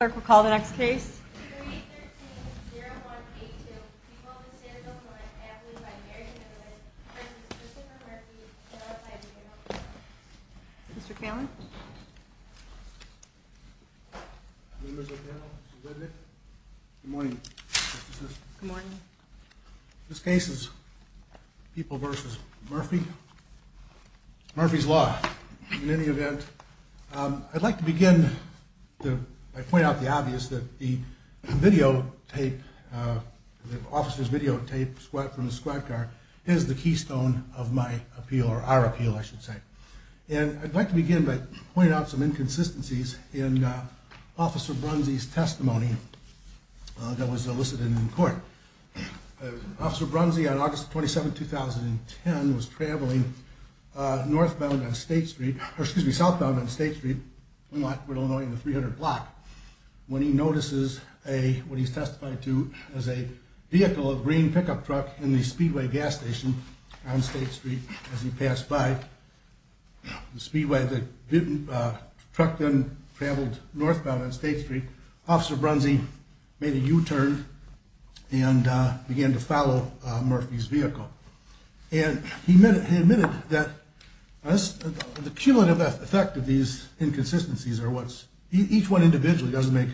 or call the next case. Mr. This case is people versus Murphy. Murphy's law. In any event, I'd like to begin to point out the obvious that the video tape, the officer's video tape from the squad car is the keystone of my appeal or our appeal, I should say. And I'd like to begin by pointing out some inconsistencies in Officer Brunze's testimony that was elicited in court. Officer Brunze on August 27, 2010, was traveling northbound on State Street, or excuse me, southbound on State Street, Illinois in the 300 block, when he notices a what he's testified to as a vehicle, a green pickup truck in the speedway gas station on State Street, as he passed by the speedway, the truck then traveled northbound on State Street, Officer Brunze made a U-turn and began to follow Murphy's vehicle. And he admitted that the cumulative effect of these inconsistencies are what's each one individually doesn't make,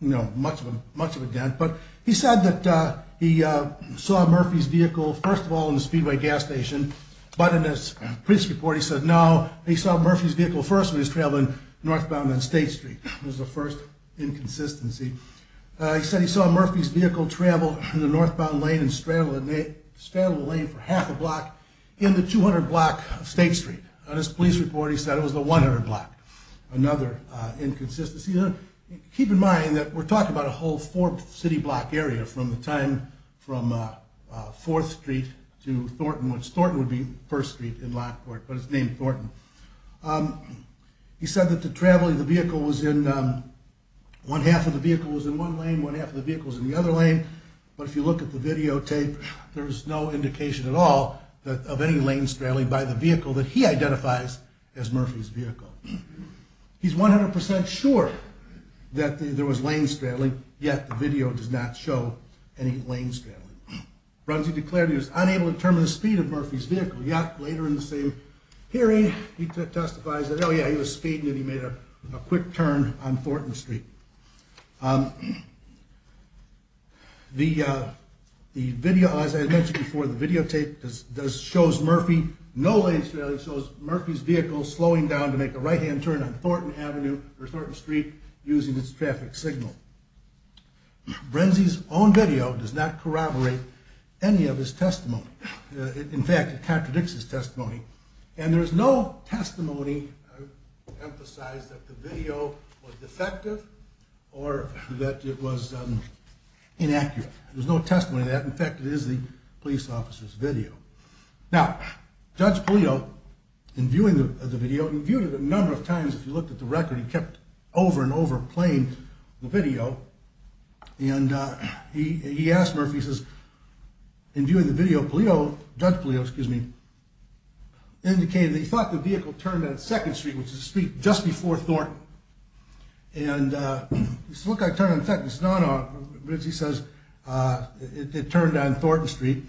you know, much of a much of a dent. But he said that he saw Murphy's vehicle, first of all, in the speedway gas station. But in this police report, he said no, he saw Murphy's vehicle first was traveling northbound on State Street was the first inconsistency. He said he saw Murphy's vehicle travel in the northbound lane and straddle the lane for half a block in the 200 block of State Street. On his police report, he said it was the 100 block. Another inconsistency. Keep in mind that we're talking about a whole four city block area from the time from Fourth Street to Thornton, which Thornton would be first street in Lockport, but it's named Thornton. He said that the traveling the vehicle was in one half of the vehicle was in one lane, one half of the vehicles in the other lane. But if you look at the videotape, there's no indication at all that of any lane straddling by the identifies as Murphy's vehicle. He's 100% sure that the there was lane straddling, yet the video does not show any lane straddling. Brunsey declared he was unable to determine the speed of Murphy's vehicle. Yet later in the same hearing, he testifies that Oh, yeah, he was speeding and he made a quick turn on Thornton Street. The, the video, as I mentioned before, the videotape does shows Murphy, no lane straddling shows Murphy's vehicle slowing down to make a right hand turn on Thornton Avenue or Thornton Street using its traffic signal. Brunsey's own video does not corroborate any of his testimony. In fact, it contradicts his testimony. And there is no testimony emphasize that the video was defective or that it was inaccurate. There's no testimony that in fact, it is the police officer's video. Now, Judge Polito in viewing the video, he viewed it a number of times. If you looked at the record, he kept over and over playing the video. And he, he asked Murphy says, in viewing the video, Polito, Judge Polito, excuse me, indicated that he thought the vehicle turned on second street, which is the street just before Thornton. And he said, look, I turned on second, it's Thornton Street.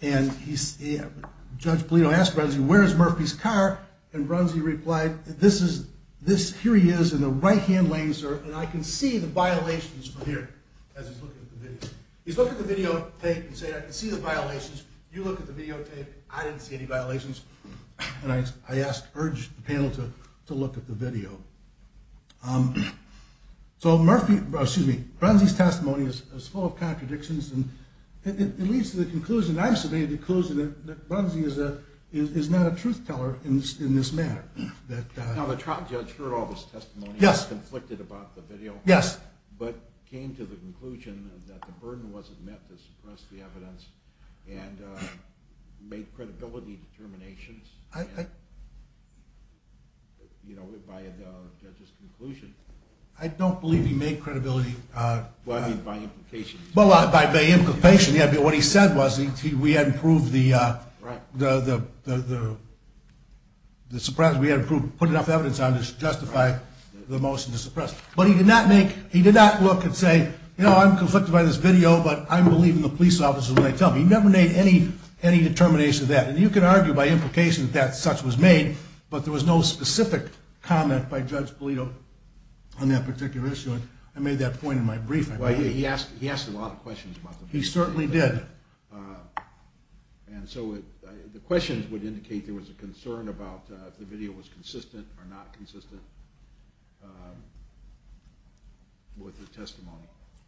And he said, Judge Polito asked Brunsey, where's Murphy's car? And Brunsey replied, this is this. Here he is in the right hand lane, sir. And I can see the violations from here. As he's looking at the video, he's looking at the videotape and say, I can see the violations. You look at the videotape. I didn't see any violations. And I asked, urged the panel to look at the video. So Murphy, excuse me, Brunsey's testimony is full of the conclusion I've submitted, because Brunsey is a, is not a truth teller in this, in this matter. Now the trial judge heard all this testimony. Yes. Conflicted about the video. Yes. But came to the conclusion that the burden wasn't met to suppress the evidence and made credibility determinations. I, you know, by the judge's conclusion, I don't believe he made credibility. Well, I mean, by implication. Well, by implication. Yeah. But what he said was he, we hadn't proved the, uh, the, the, the, the, the surprise we had approved, put enough evidence on to justify the motion to suppress, but he did not make, he did not look and say, you know, I'm conflicted by this video, but I'm believing the police officers when I tell him he never made any, any determination of that. And you can argue by implication that such was made, but there was no specific comment by judge Polito on that particular issue. And I made that point in my briefing. He asked, he asked a lot of questions about the, he certainly did. Uh, and so it, the questions would indicate there was a concern about, uh, the video was consistent or not consistent, um, with the testimony.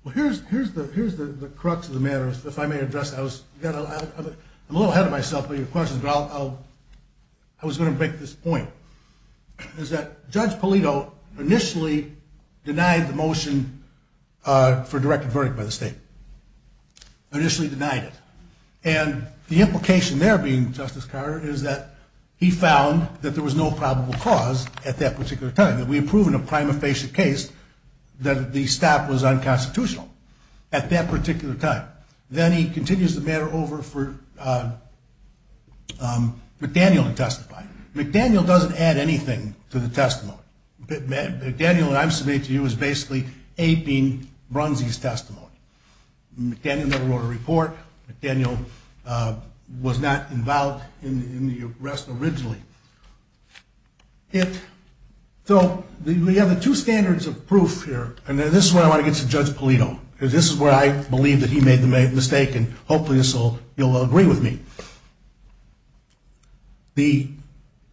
Well, here's, here's the, here's the crux of the matter. If I may address, I was, I'm a little ahead of myself with your questions, but I'll, I'll, I was going to break this point. Is that judge Polito initially denied the motion, uh, for directed verdict by the state, initially denied it. And the implication there being Justice Carter is that he found that there was no probable cause at that particular time that we approved in a prima facie case that the stop was unconstitutional at that particular time. Then he continues the matter over for, uh, um, McDaniel to testify. McDaniel doesn't add anything to the testimony. McDaniel and I submit to you is basically aping Brunsey's testimony. McDaniel never wrote a report. McDaniel, uh, was not involved in the arrest originally. So we have the two standards of proof here, and then this is where I want to get to judge Polito, because this is where I believe that he made the mistake and hopefully this will, he'll agree with me. The,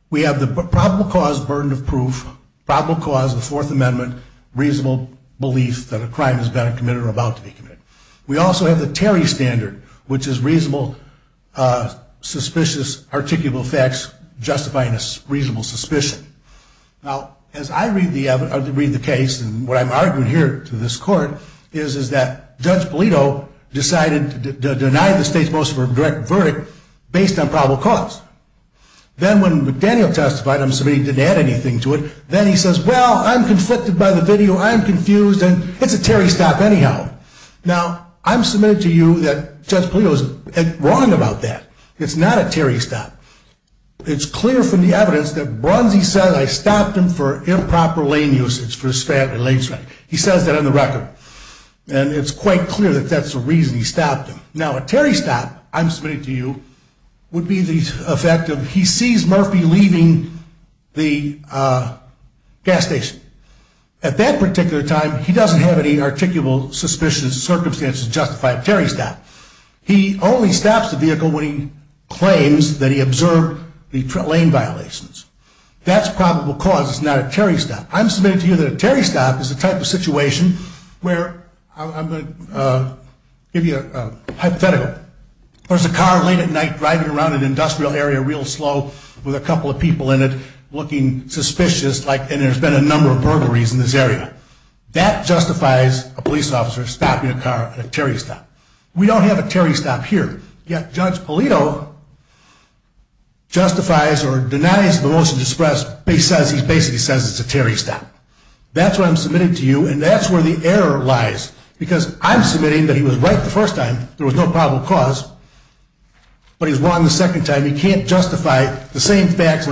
we have the probable cause burden of proof, probable cause of the fourth amendment, reasonable belief that a crime has been committed or about to be committed. We also have the Terry standard, which is reasonable, uh, suspicious, articulable facts justifying a reasonable suspicion. Now, as I read the evidence, I read the case, and what I'm arguing here to this court is, is that judge Polito decided to deny the state's motion for direct verdict based on probable cause. Then when McDaniel testified, I'm submitting he didn't add anything to it. Then he says, well, I'm conflicted by the video. I'm confused. And it's a Terry stop anyhow. Now I'm submitted to you that judge Polito was wrong about that. It's not a Terry stop. It's clear from the evidence that Brunsey says I stopped him for improper lane usage for his family lane. He says that on the record. And it's quite clear that that's the reason he stopped him. Now a Terry stop I'm submitting to you would be the effect of he sees Murphy leaving the gas station. At that particular time, he doesn't have any articulable suspicions, circumstances justify a Terry stop. He only stops the vehicle when he claims that he observed the lane violations. That's probable cause. It's not a Terry stop. I'm submitting to you that a Terry stop is the type of situation where I'm going to give you a hypothetical. There's a car late at night driving around an industrial area real slow with a couple of people in it looking suspicious like and there's been a number of burglaries in this area. That justifies a police officer stopping a car at a Terry stop. We don't have a Terry stop here. Yet judge Polito justifies or denies the motion to express. He says he basically says it's a Terry stop. That's what I'm submitting to you. And that's where the error lies. Because I'm submitting that he was right the first time. There was no probable cause. But he's wrong the second time. He can't justify the same facts.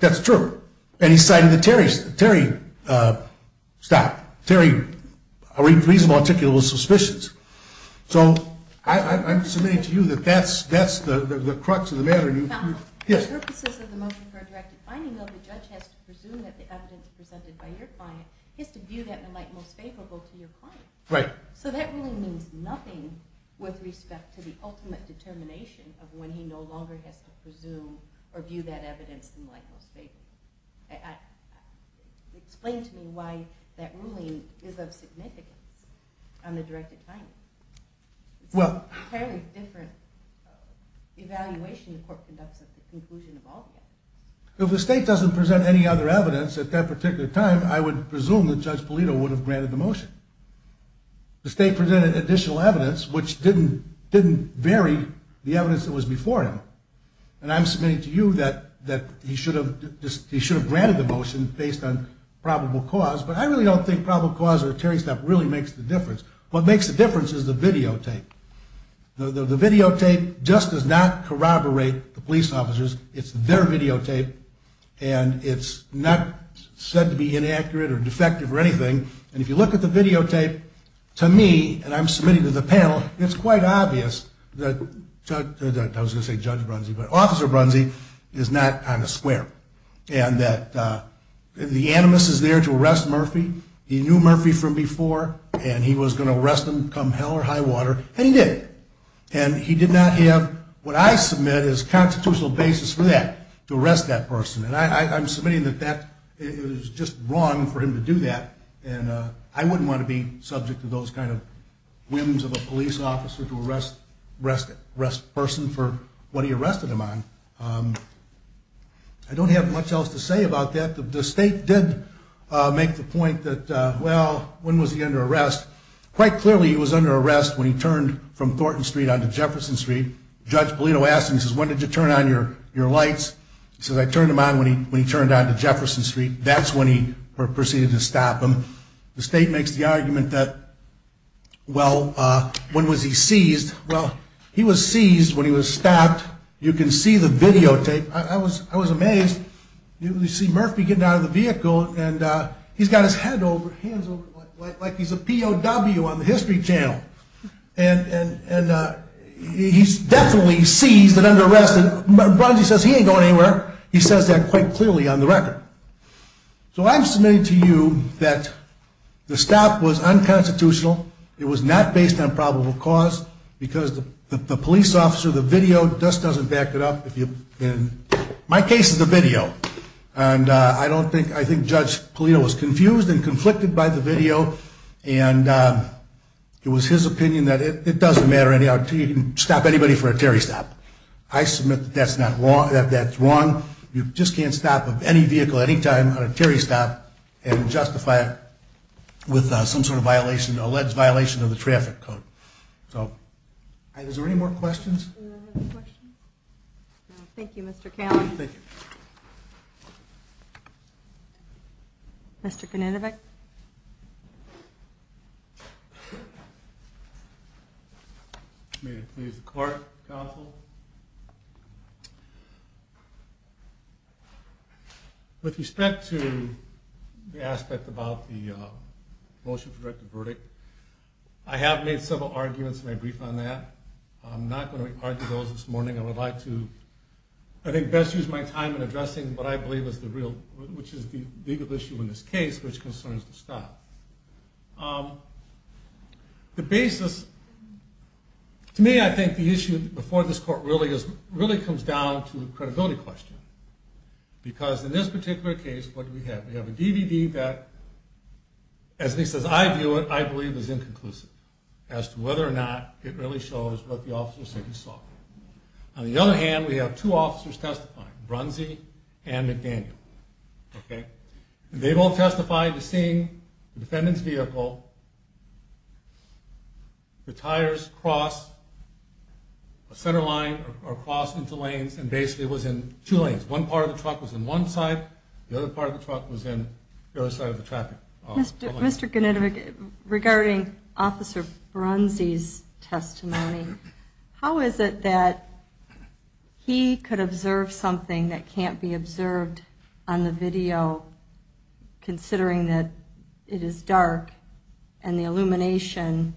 That's true. And he cited the Terry stop. Terry reasonable articulable suspicions. So I'm submitting to you that that's that's the crux of the matter. Yes. For the purposes of the motion for a directed finding though the judge has to presume that the evidence presented by your client is to view that in light most favorable to your client. Right. So that really means nothing with respect to the ultimate determination of when he no longer has to presume or view that evidence in light most favorable. Explain to me why that ruling is of significance on the directed finding. Well it's a entirely different evaluation the court conducts at the conclusion of all the evidence. If the state doesn't present any other evidence at that particular time I would presume that judge Polito would have granted the motion. The state presented additional evidence which didn't didn't vary the evidence that was before him. And I'm submitting to you that that he should have he should have granted the motion based on probable cause. But I really don't think probable cause or Terry's that really makes the difference. What makes the difference is the videotape. The videotape just does not corroborate the police officers. It's their videotape and it's not said to be inaccurate or defective or anything. And if you look at the videotape to me and I'm submitting to the panel it's quite obvious that I was going to say Judge Brunzee but Officer Brunzee is not on the square. And that the animus is there to arrest Murphy. He knew Murphy from before and he was going to arrest him come hell or high water. And he did. And he did not have what I submit is constitutional basis for that to arrest that person. And I'm submitting that that is just wrong for him to do that. And I wouldn't want to be subject to those kind of whims of a police officer to arrest person for what he arrested him on. I don't have much else to say about that. The state did make the point that, well, when was he under arrest? Quite clearly he was under arrest when he turned from Thornton Street onto Jefferson Street. Judge Polito asked him, he says, when did you turn on your lights? He says, I turned them on when he turned on to Jefferson Street. That's when he proceeded to stop him. The state makes the argument that, well, when was he seized? Well, he was seized when he was stopped. You can see the videotape. I was I was amazed. You see Murphy getting out of the vehicle and he's got his head over, hands over, like he's a POW on the History Channel. And he's definitely seized and under arrest. And Brunzee says he ain't going anywhere. He says that quite clearly on the record. So I'm submitting to you that the stop was unconstitutional. It was not based on probable cause because the police officer, the video just doesn't back it up. My case is the video. And I don't think I think Judge Polito was confused and conflicted by the video. And it was his opinion that it doesn't matter anyhow until you can stop anybody for a Terry stop. I submit that's not you just can't stop of any vehicle at any time on a Terry stop and justify it with some sort of violation, alleged violation of the traffic code. So is there any more questions? Thank you, Mr. With respect to the aspect about the motion for directed verdict, I have made several arguments and I briefed on that. I'm not going to argue those this morning. I would like to, I think best use my time in addressing what I believe is the real, which is the legal issue in this case, which concerns the stop. The basis to me, I think the issue before this court really is really comes down to the credibility question, because in this particular case, what do we have? We have a DVD that as he says, I view it, I believe is inconclusive as to whether or not it really shows what the officer said he saw. On the other hand, we have two officers testifying, Brunsey and McDaniel. Okay. They both testified to seeing the defendant's vehicle, the tires cross a centerline or cross into lanes and basically was in two lanes. One part of the truck was in one side. The other part of the truck was in the other side of the traffic. Mr. Genetovic, regarding Officer Brunsey's testimony, how is it that he could observe something that can't be observed on the video, considering that it is dark and the video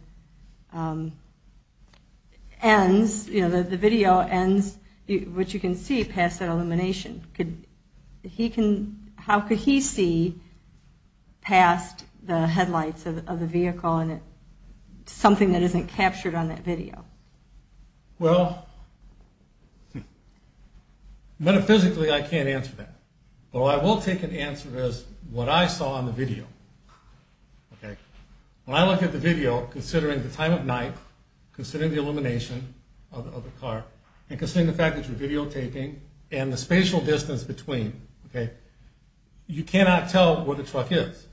ends, which you can see past that illumination. How could he see past the headlights of the vehicle and something that isn't captured on that video? Well, metaphysically I can't answer that. Well, I will take an answer as what I saw on the video. When I look at the video, considering the time of night, considering the illumination of the car and considering the fact that you're videotaping and the spatial distance between, okay, you cannot tell where the truck is.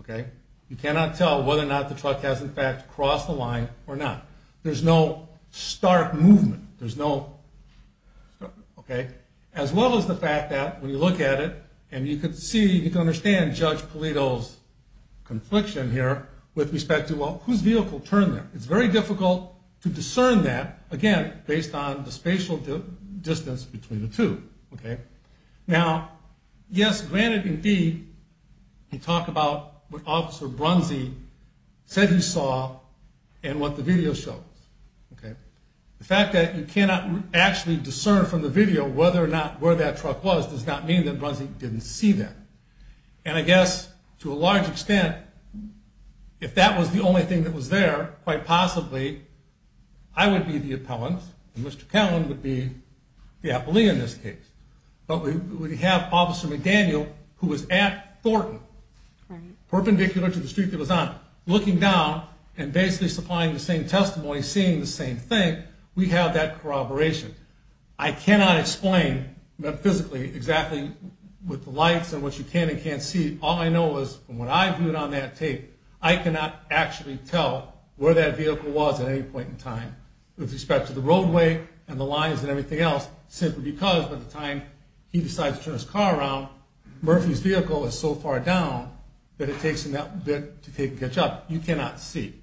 Okay. You cannot tell whether or not the truck has in fact crossed the line or not. There's no stark movement. There's no, okay. As well as the fact that when you look at it and you can see, you can understand Judge Pulido's confliction here with respect to, well, whose vehicle turned there? It's very difficult to discern that again, based on the spatial distance between the two. Okay. Now, yes, granted, indeed, he talked about what officer Brunsey said he saw and what the video shows. Okay. The fact that you cannot actually discern from the video whether or not where that truck was does not mean that Brunsey didn't see that. And I guess to a large thing that was there, quite possibly, I would be the appellant and Mr. Callan would be the appellee in this case. But we have officer McDaniel who was at Thornton, perpendicular to the street that was on, looking down and basically supplying the same testimony, seeing the same thing. We have that corroboration. I cannot explain metaphysically exactly with the lights and what you can and can't see. All I know is from what I viewed on that tape, I cannot actually tell where that vehicle was at any point in time with respect to the roadway and the lines and everything else, simply because by the time he decides to turn his car around, Murphy's vehicle is so far down that it takes him that bit to take and catch up. You cannot see.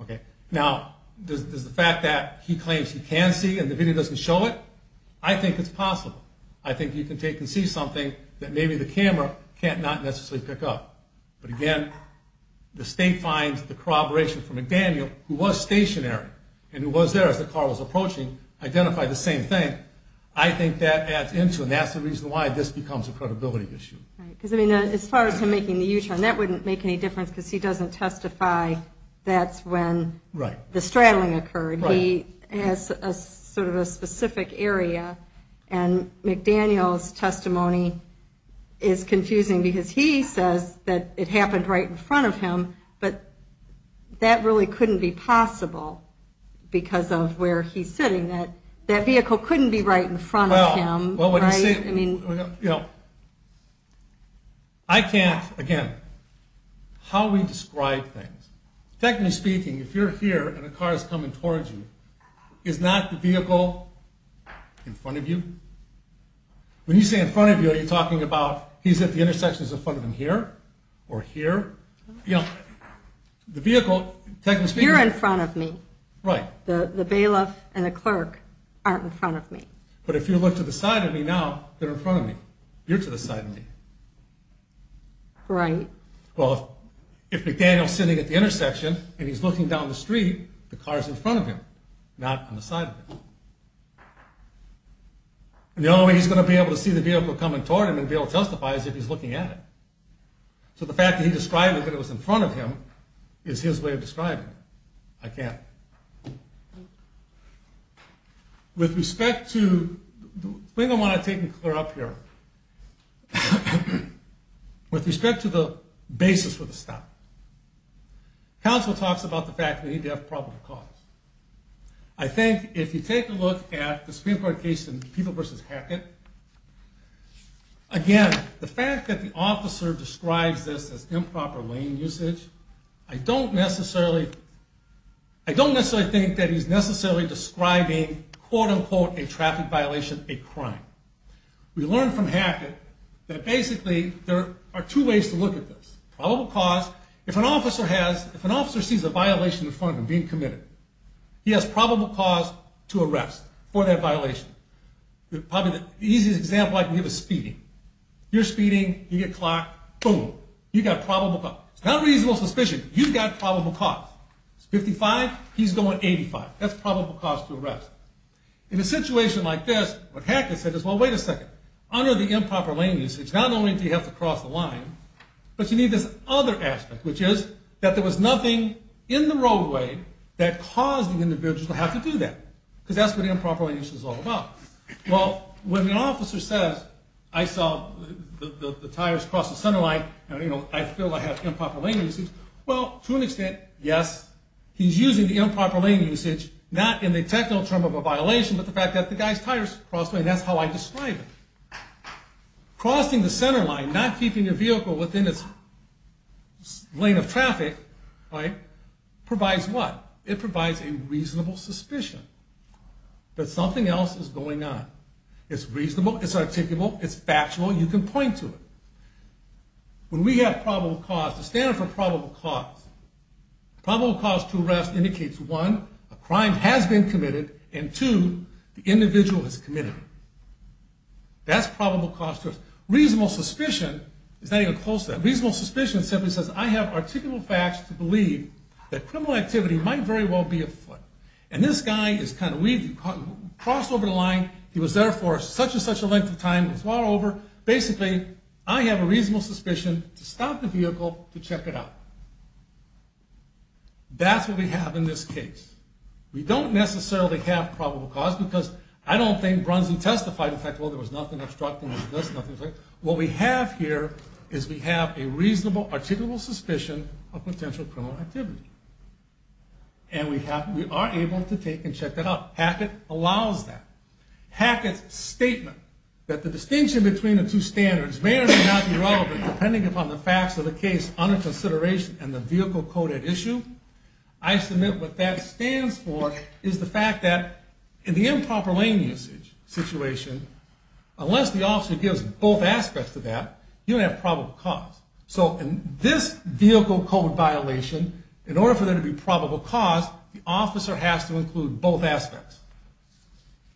Okay. Now, does the fact that he claims he can see and the video doesn't show it? I think it's possible. I think you can take and see something that maybe the camera can't not necessarily pick up. But again, the state finds the corroboration for McDaniel, who was stationary and who was there as the car was approaching, identified the same thing. I think that adds into and that's the reason why this becomes a credibility issue. Because I mean, as far as him making the U-turn, that wouldn't make any difference because he doesn't testify. That's when the straddling occurred. He has a sort of a specific area. And McDaniel's testimony is confusing because he says that it happened right in front of him. But that really couldn't be possible because of where he's sitting, that that vehicle couldn't be right in front of him. Well, I mean, you know, I can't, again, how we describe things. Technically speaking, if you're here and a car is coming towards you, is not the vehicle in front of you? When you say in front of you, are you talking about he's at the mirror or here? You know, the vehicle, you're in front of me, right? The bailiff and the clerk aren't in front of me. But if you look to the side of me now, they're in front of me. You're to the side of me. Right. Well, if McDaniel's sitting at the intersection and he's looking down the street, the car's in front of him, not on the side of him. And the only way he's going to be able to see the vehicle coming toward him and be able to justify is if he's looking at it. So the fact that he described it, that it was in front of him, is his way of describing it. I can't. With respect to the thing I want to take and clear up here, with respect to the basis for the stop, counsel talks about the fact that he'd have probable cause. I think if you take a look at the Supreme Court case in Peeble v. Hackett, again, the fact that the officer describes this as improper lane usage, I don't necessarily, I don't necessarily think that he's necessarily describing, quote unquote, a traffic violation, a crime. We learned from Hackett that basically there are two ways to look at this. Probable cause, if an officer has, if an officer sees a violation in front of him being committed, he has probable cause to arrest for that probably the easiest example I can give is speeding. You're speeding, you get clocked, boom, you've got probable cause. It's not reasonable suspicion. You've got probable cause. It's 55, he's going 85. That's probable cause to arrest. In a situation like this, what Hackett said is, well, wait a second, under the improper lane usage, it's not only do you have to cross the line, but you need this other aspect, which is that there was nothing in the roadway that caused the individual to have to do that. Because that's what improper lane usage is all about. Well, when the officer says, I saw the tires cross the center line, you know, I feel I have improper lane usage. Well, to an extent, yes, he's using the improper lane usage, not in the technical term of a violation, but the fact that the guy's tires crossed, and that's how I describe it. Crossing the center line, not keeping your vehicle within its lane of traffic, right, provides what? It provides a reasonable suspicion. That something else is going on. It's reasonable, it's articulable, it's factual, you can point to it. When we have probable cause, the standard for probable cause, probable cause to arrest indicates one, a crime has been committed, and two, the individual has committed it. That's probable cause to arrest. Reasonable suspicion is not even close to that. Reasonable suspicion simply says, I have articulable facts to believe that criminal activity might very well be at fault. And this guy is kind of, we've crossed over the line, he was there for such and such a length of time, it's all over. Basically, I have a reasonable suspicion to stop the vehicle to check it out. That's what we have in this case. We don't necessarily have probable cause because I don't think Brunson testified in fact, well, there was nothing obstructing, there was nothing obstructing. What we have here is we have a reasonable articulable suspicion of potential criminal activity. And we are able to take and check it out. Hackett allows that. Hackett's statement that the distinction between the two standards may or may not be relevant, depending upon the facts of the case under consideration and the vehicle code at issue. I submit what that stands for is the fact that in the improper lane usage situation, unless the officer gives both aspects of that, you have probable cause. So in this vehicle code violation, in order for there to be probable cause, the officer has to include both aspects.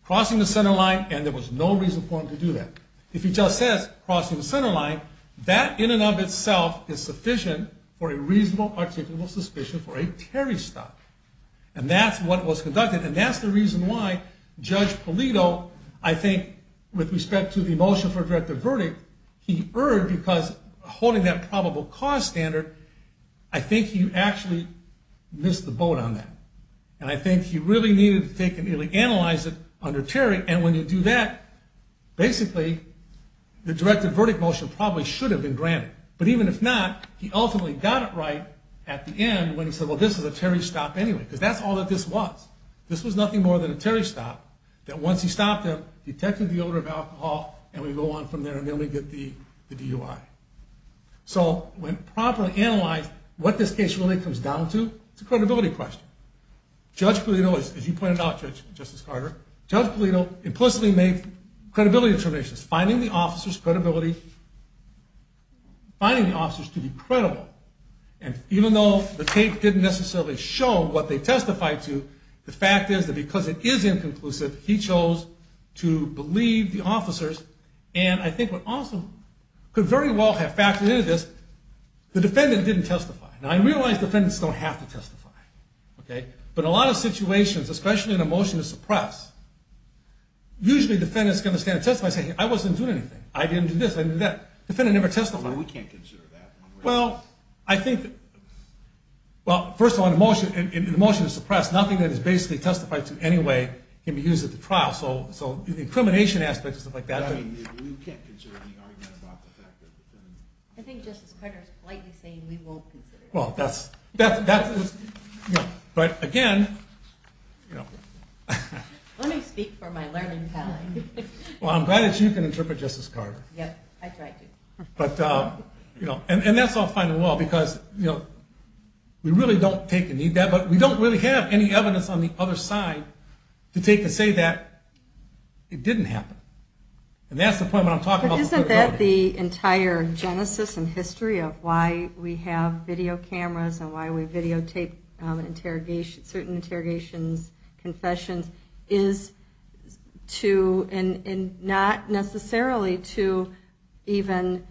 Crossing the center line, and there was no reason for him to do that. If he just says crossing the center line, that in and of itself is sufficient for a reasonable articulable suspicion for a Terry stop. And that's what was conducted. And that's the reason why Judge Polito, I think, with respect to the motion for a directive verdict, he erred because holding that probable cause standard, I think he actually missed the boat on that. And I think he really needed to take and really analyze it under Terry. And when you do that, basically the directive verdict motion probably should have been granted. But even if not, he ultimately got it right at the end when he said, well, this is a Terry stop anyway, because that's all that this was. This was nothing more than a Terry stop that once he stopped him, detected the odor of alcohol, and we go on from there and then we get the DUI. So when properly analyzed what this case really comes down to, it's a credibility question. Judge Polito, as you pointed out, Judge Justice Carter, Judge Polito implicitly made credibility determinations, finding the officers credibility, finding the officers to be credible. And even though the tape didn't necessarily show what they testified to, the fact is that because it is inconclusive, he chose to believe the officers. And I think what also could very well have factored into this, the defendant didn't testify. Now, I realize defendants don't have to testify. Okay. But a lot of situations, especially in a motion to suppress, usually defendants going to stand and testify saying, I wasn't doing anything. I didn't do this, I didn't do that. Defendant never testified. We can't consider that. Well, I think, well, first of all, in a motion to suppress, nothing that is basically testified to anyway can be used at the trial. So, so incrimination aspects and stuff like that. We can't consider any arguments about the fact that the defendant... I think Justice Carter is politely saying we won't consider that. Well, that's, that's, that's, but again, let me speak for my learning time. Well, I'm glad that you can interpret Justice Carter. Yep, I tried to. But, you know, and that's all fine and well, because, you know, we really don't take any of that, but we don't really have any evidence on the other side to take to say that it didn't happen. And that's the point what I'm talking about. But isn't that the entire genesis and history of why we have video cameras and why we videotape interrogation, certain interrogations, confessions is to, and not necessarily to even,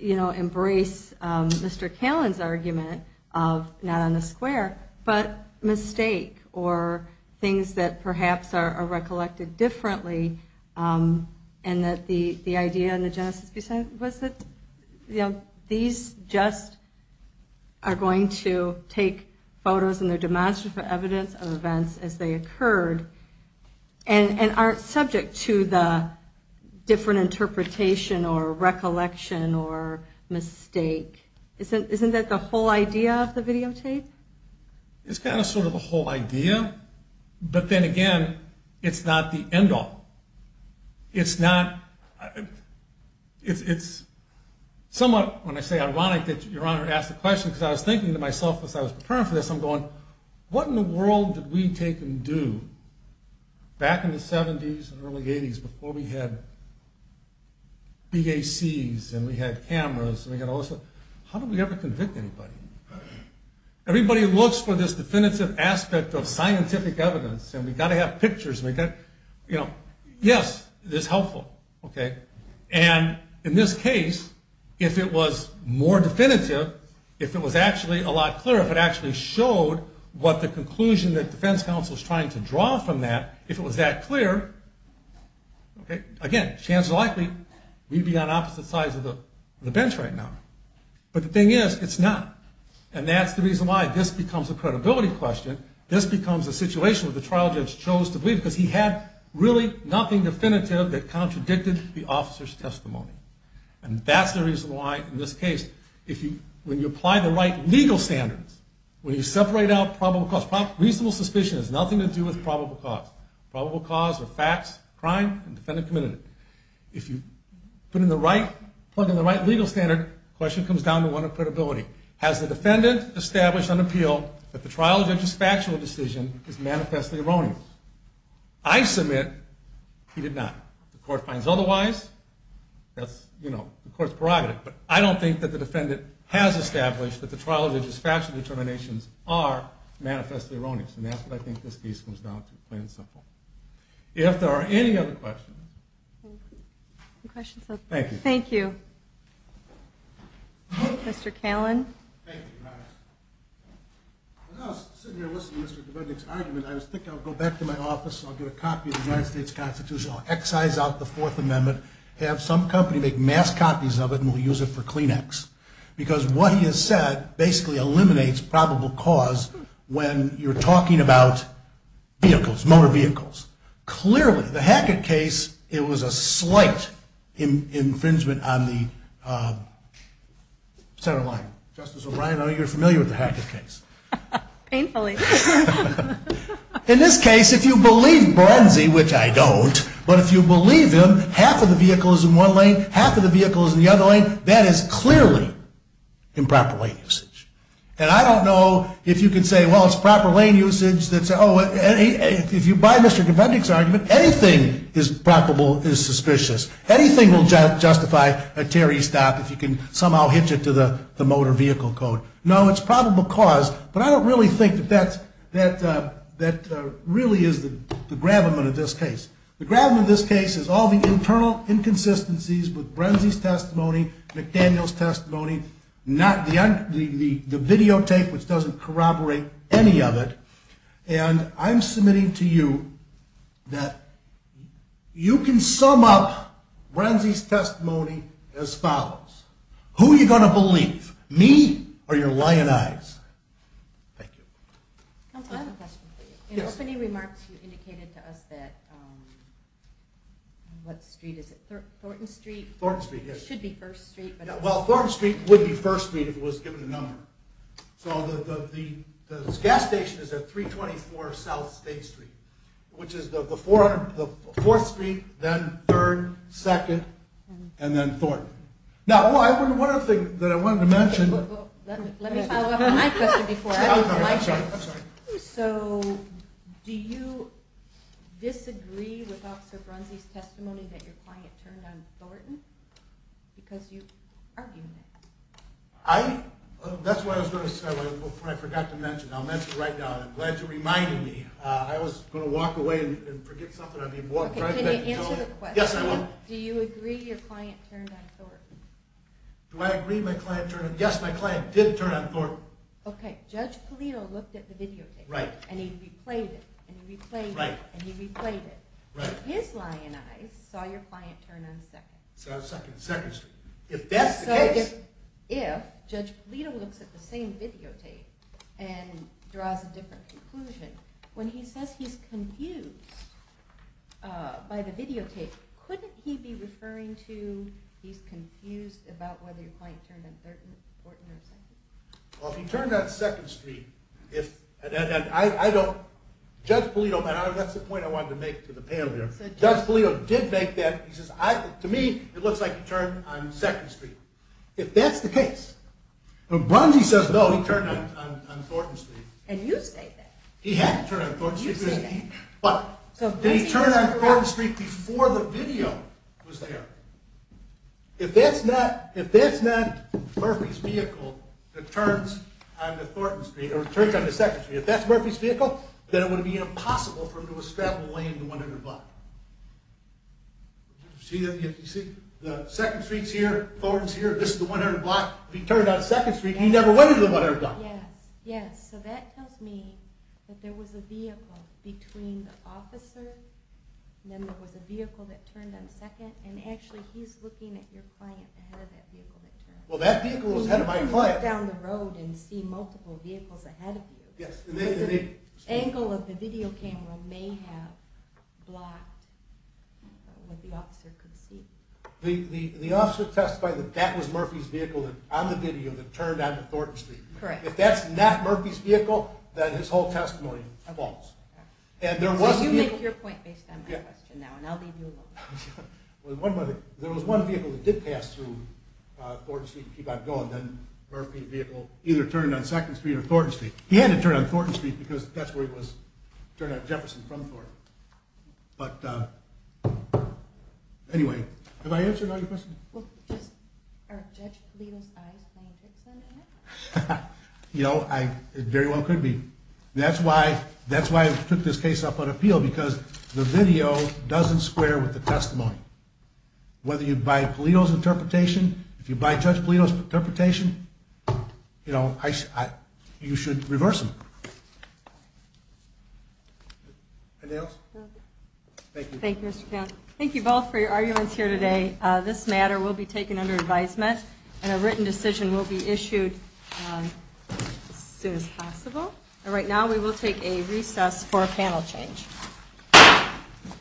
you know, embrace Mr. Callan's argument of not on the square, but mistake or things that perhaps are that the, the idea and the justice was that, you know, these just are going to take photos and they're demonstrated for evidence of events as they occurred and aren't subject to the different interpretation or recollection or mistake. Isn't, isn't that the whole idea of the videotape? It's kind of sort of a whole idea, but then again, it's not the end all. It's not, it's somewhat, when I say ironic that your honor asked the question, because I was thinking to myself as I was preparing for this, I'm going, what in the world did we take and do back in the seventies and early eighties before we had BACs and we had cameras and we had all this stuff. How did we ever convict anybody? Everybody looks for this definitive aspect of scientific evidence and we got to have pictures. You know, yes, this helpful. Okay. And in this case, if it was more definitive, if it was actually a lot clearer, if it actually showed what the conclusion that defense council was trying to draw from that, if it was that clear, okay, again, chance likely we'd be on opposite sides of the bench right now, but the thing is it's not. And that's the reason why this becomes a credibility question. This becomes a situation with the trial judge chose to leave because he had really nothing definitive that contradicted the officer's testimony. And that's the reason why in this case, if you, when you apply the right legal standards, when you separate out probable cause, reasonable suspicion has nothing to do with probable cause, probable cause or facts, crime and defendant committed. If you put in the right, plug in the right legal standard question comes down to one of credibility. Has the defendant established an appeal that the trial judge's factual decision is manifestly erroneous. I submit he did not. The court finds otherwise that's, you know, the court's prerogative, but I don't think that the defendant has established that the trial judge's factual determinations are manifestly erroneous. And that's what I think this case comes down to plain and simple. If there are any other questions. Questions. Thank you. Thank you, Mr. Callen. When I was sitting here listening to Mr. Dubednik's argument, I was thinking I would go back to my office. I'll get a copy of the United States constitution. I'll excise out the fourth amendment, have some company make mass copies of it, and we'll use it for Kleenex because what he has said basically eliminates probable cause when you're talking about vehicles, motor vehicles, clearly the Hackett case, it was a slight infringement on the center line. Justice O'Reilly, I know you're familiar with the Hackett case. Painfully. In this case, if you believe Borenzi, which I don't, but if you believe him, half of the vehicle is in one lane, half of the vehicle is in the other lane. That is clearly improper lane usage. And I don't know if you can say, well, it's proper lane usage that's, oh, if you buy Mr. Dubednik's argument, anything is probable, is suspicious. Anything will justify a Terry stop if you can somehow hitch it to the motor vehicle code. No, it's probable cause, but I don't really think that that really is the gravamen of this case. The gravamen of this case is all the internal inconsistencies with Borenzi's testimony, McDaniel's testimony, the videotape, which doesn't corroborate any of it. And I'm submitting to you that you can sum up Borenzi's testimony as follows. Who are you going to believe, me or your allies? Thank you. In opening remarks, you indicated to us that, what street is it? Thornton Street? Thornton Street, yes. It should be First Street. Well, Thornton Street would be First Street if it was given a number. So the gas station is at 324 South State Street, which is the fourth street, then third, second, and then Thornton. Now, one other thing that I wanted to mention. Let me follow up on my question before. So do you disagree with Officer Borenzi's testimony that your client turned on Thornton? Because you argued that. I, that's what I was going to say, but I forgot to mention, I'll mention it right now. I'm glad you reminded me. I was going to walk away and forget something. I'd be walking right back to you. Do I agree my client turned on Thornton? Yes, my client did turn on Thornton. Okay. Judge Polito looked at the videotape and he replayed it and he replayed it and he replayed it. His lying eyes saw your client turn on second. So second, second street. If that's the case. If Judge Polito looks at the same videotape and draws a different conclusion, when he says he's confused by the videotape, couldn't he be referring to, he's confused about whether your client turned on Thornton or second? Well, if he turned on second street, if I don't, Judge Polito, that's the point I wanted to make to the panel here. Judge Polito did make that, he says, I, to me, it looks like he turned on second street. If that's the case. When Borenzi says no, he turned on Thornton street. And you state that. He had to turn on Thornton street. But did he turn on Thornton street before the video was there? If that's not, if that's not Murphy's vehicle that turns on the Thornton street or turns on the second street, if that's Murphy's vehicle, then it would be impossible for him to have a strappable lane in the 100 block. See that? You see the second street's here, Thornton's here. This is the 100 block. He turned on second street and he never went into the 100 block. Yes. So that tells me that there was a vehicle between the officer and then there was a vehicle that turned and actually he's looking at your client ahead of that vehicle. Well, that vehicle was head of my client down the road and see multiple vehicles ahead of you. Angle of the video camera may have blocked what the officer could see. The, the, the officer testified that that was Murphy's vehicle on the video that turned on the Thornton street. If that's not Murphy's vehicle, then his whole testimony falls. And there wasn't your point based on my question now, and I'll leave you alone. Well, one, there was one vehicle that did pass through, uh, Thornton street and keep on going. Then Murphy vehicle either turned on second street or Thornton street. He had to turn on Thornton street because that's where it was turned out Jefferson from Thornton. But, uh, anyway, have I answered all your questions? You know, I very well could be. That's why, that's why I took this case up on appeal because the video doesn't square with the testimony, whether you buy Palito's interpretation, if you buy judge Palito's interpretation, you know, I, I, you should reverse them. Thank you. Thank you, Mr. County. Thank you both for your arguments here today. Uh, this matter will be taken under advisement and a written decision will be issued as soon as possible. And right now we will take a recess for a panel change.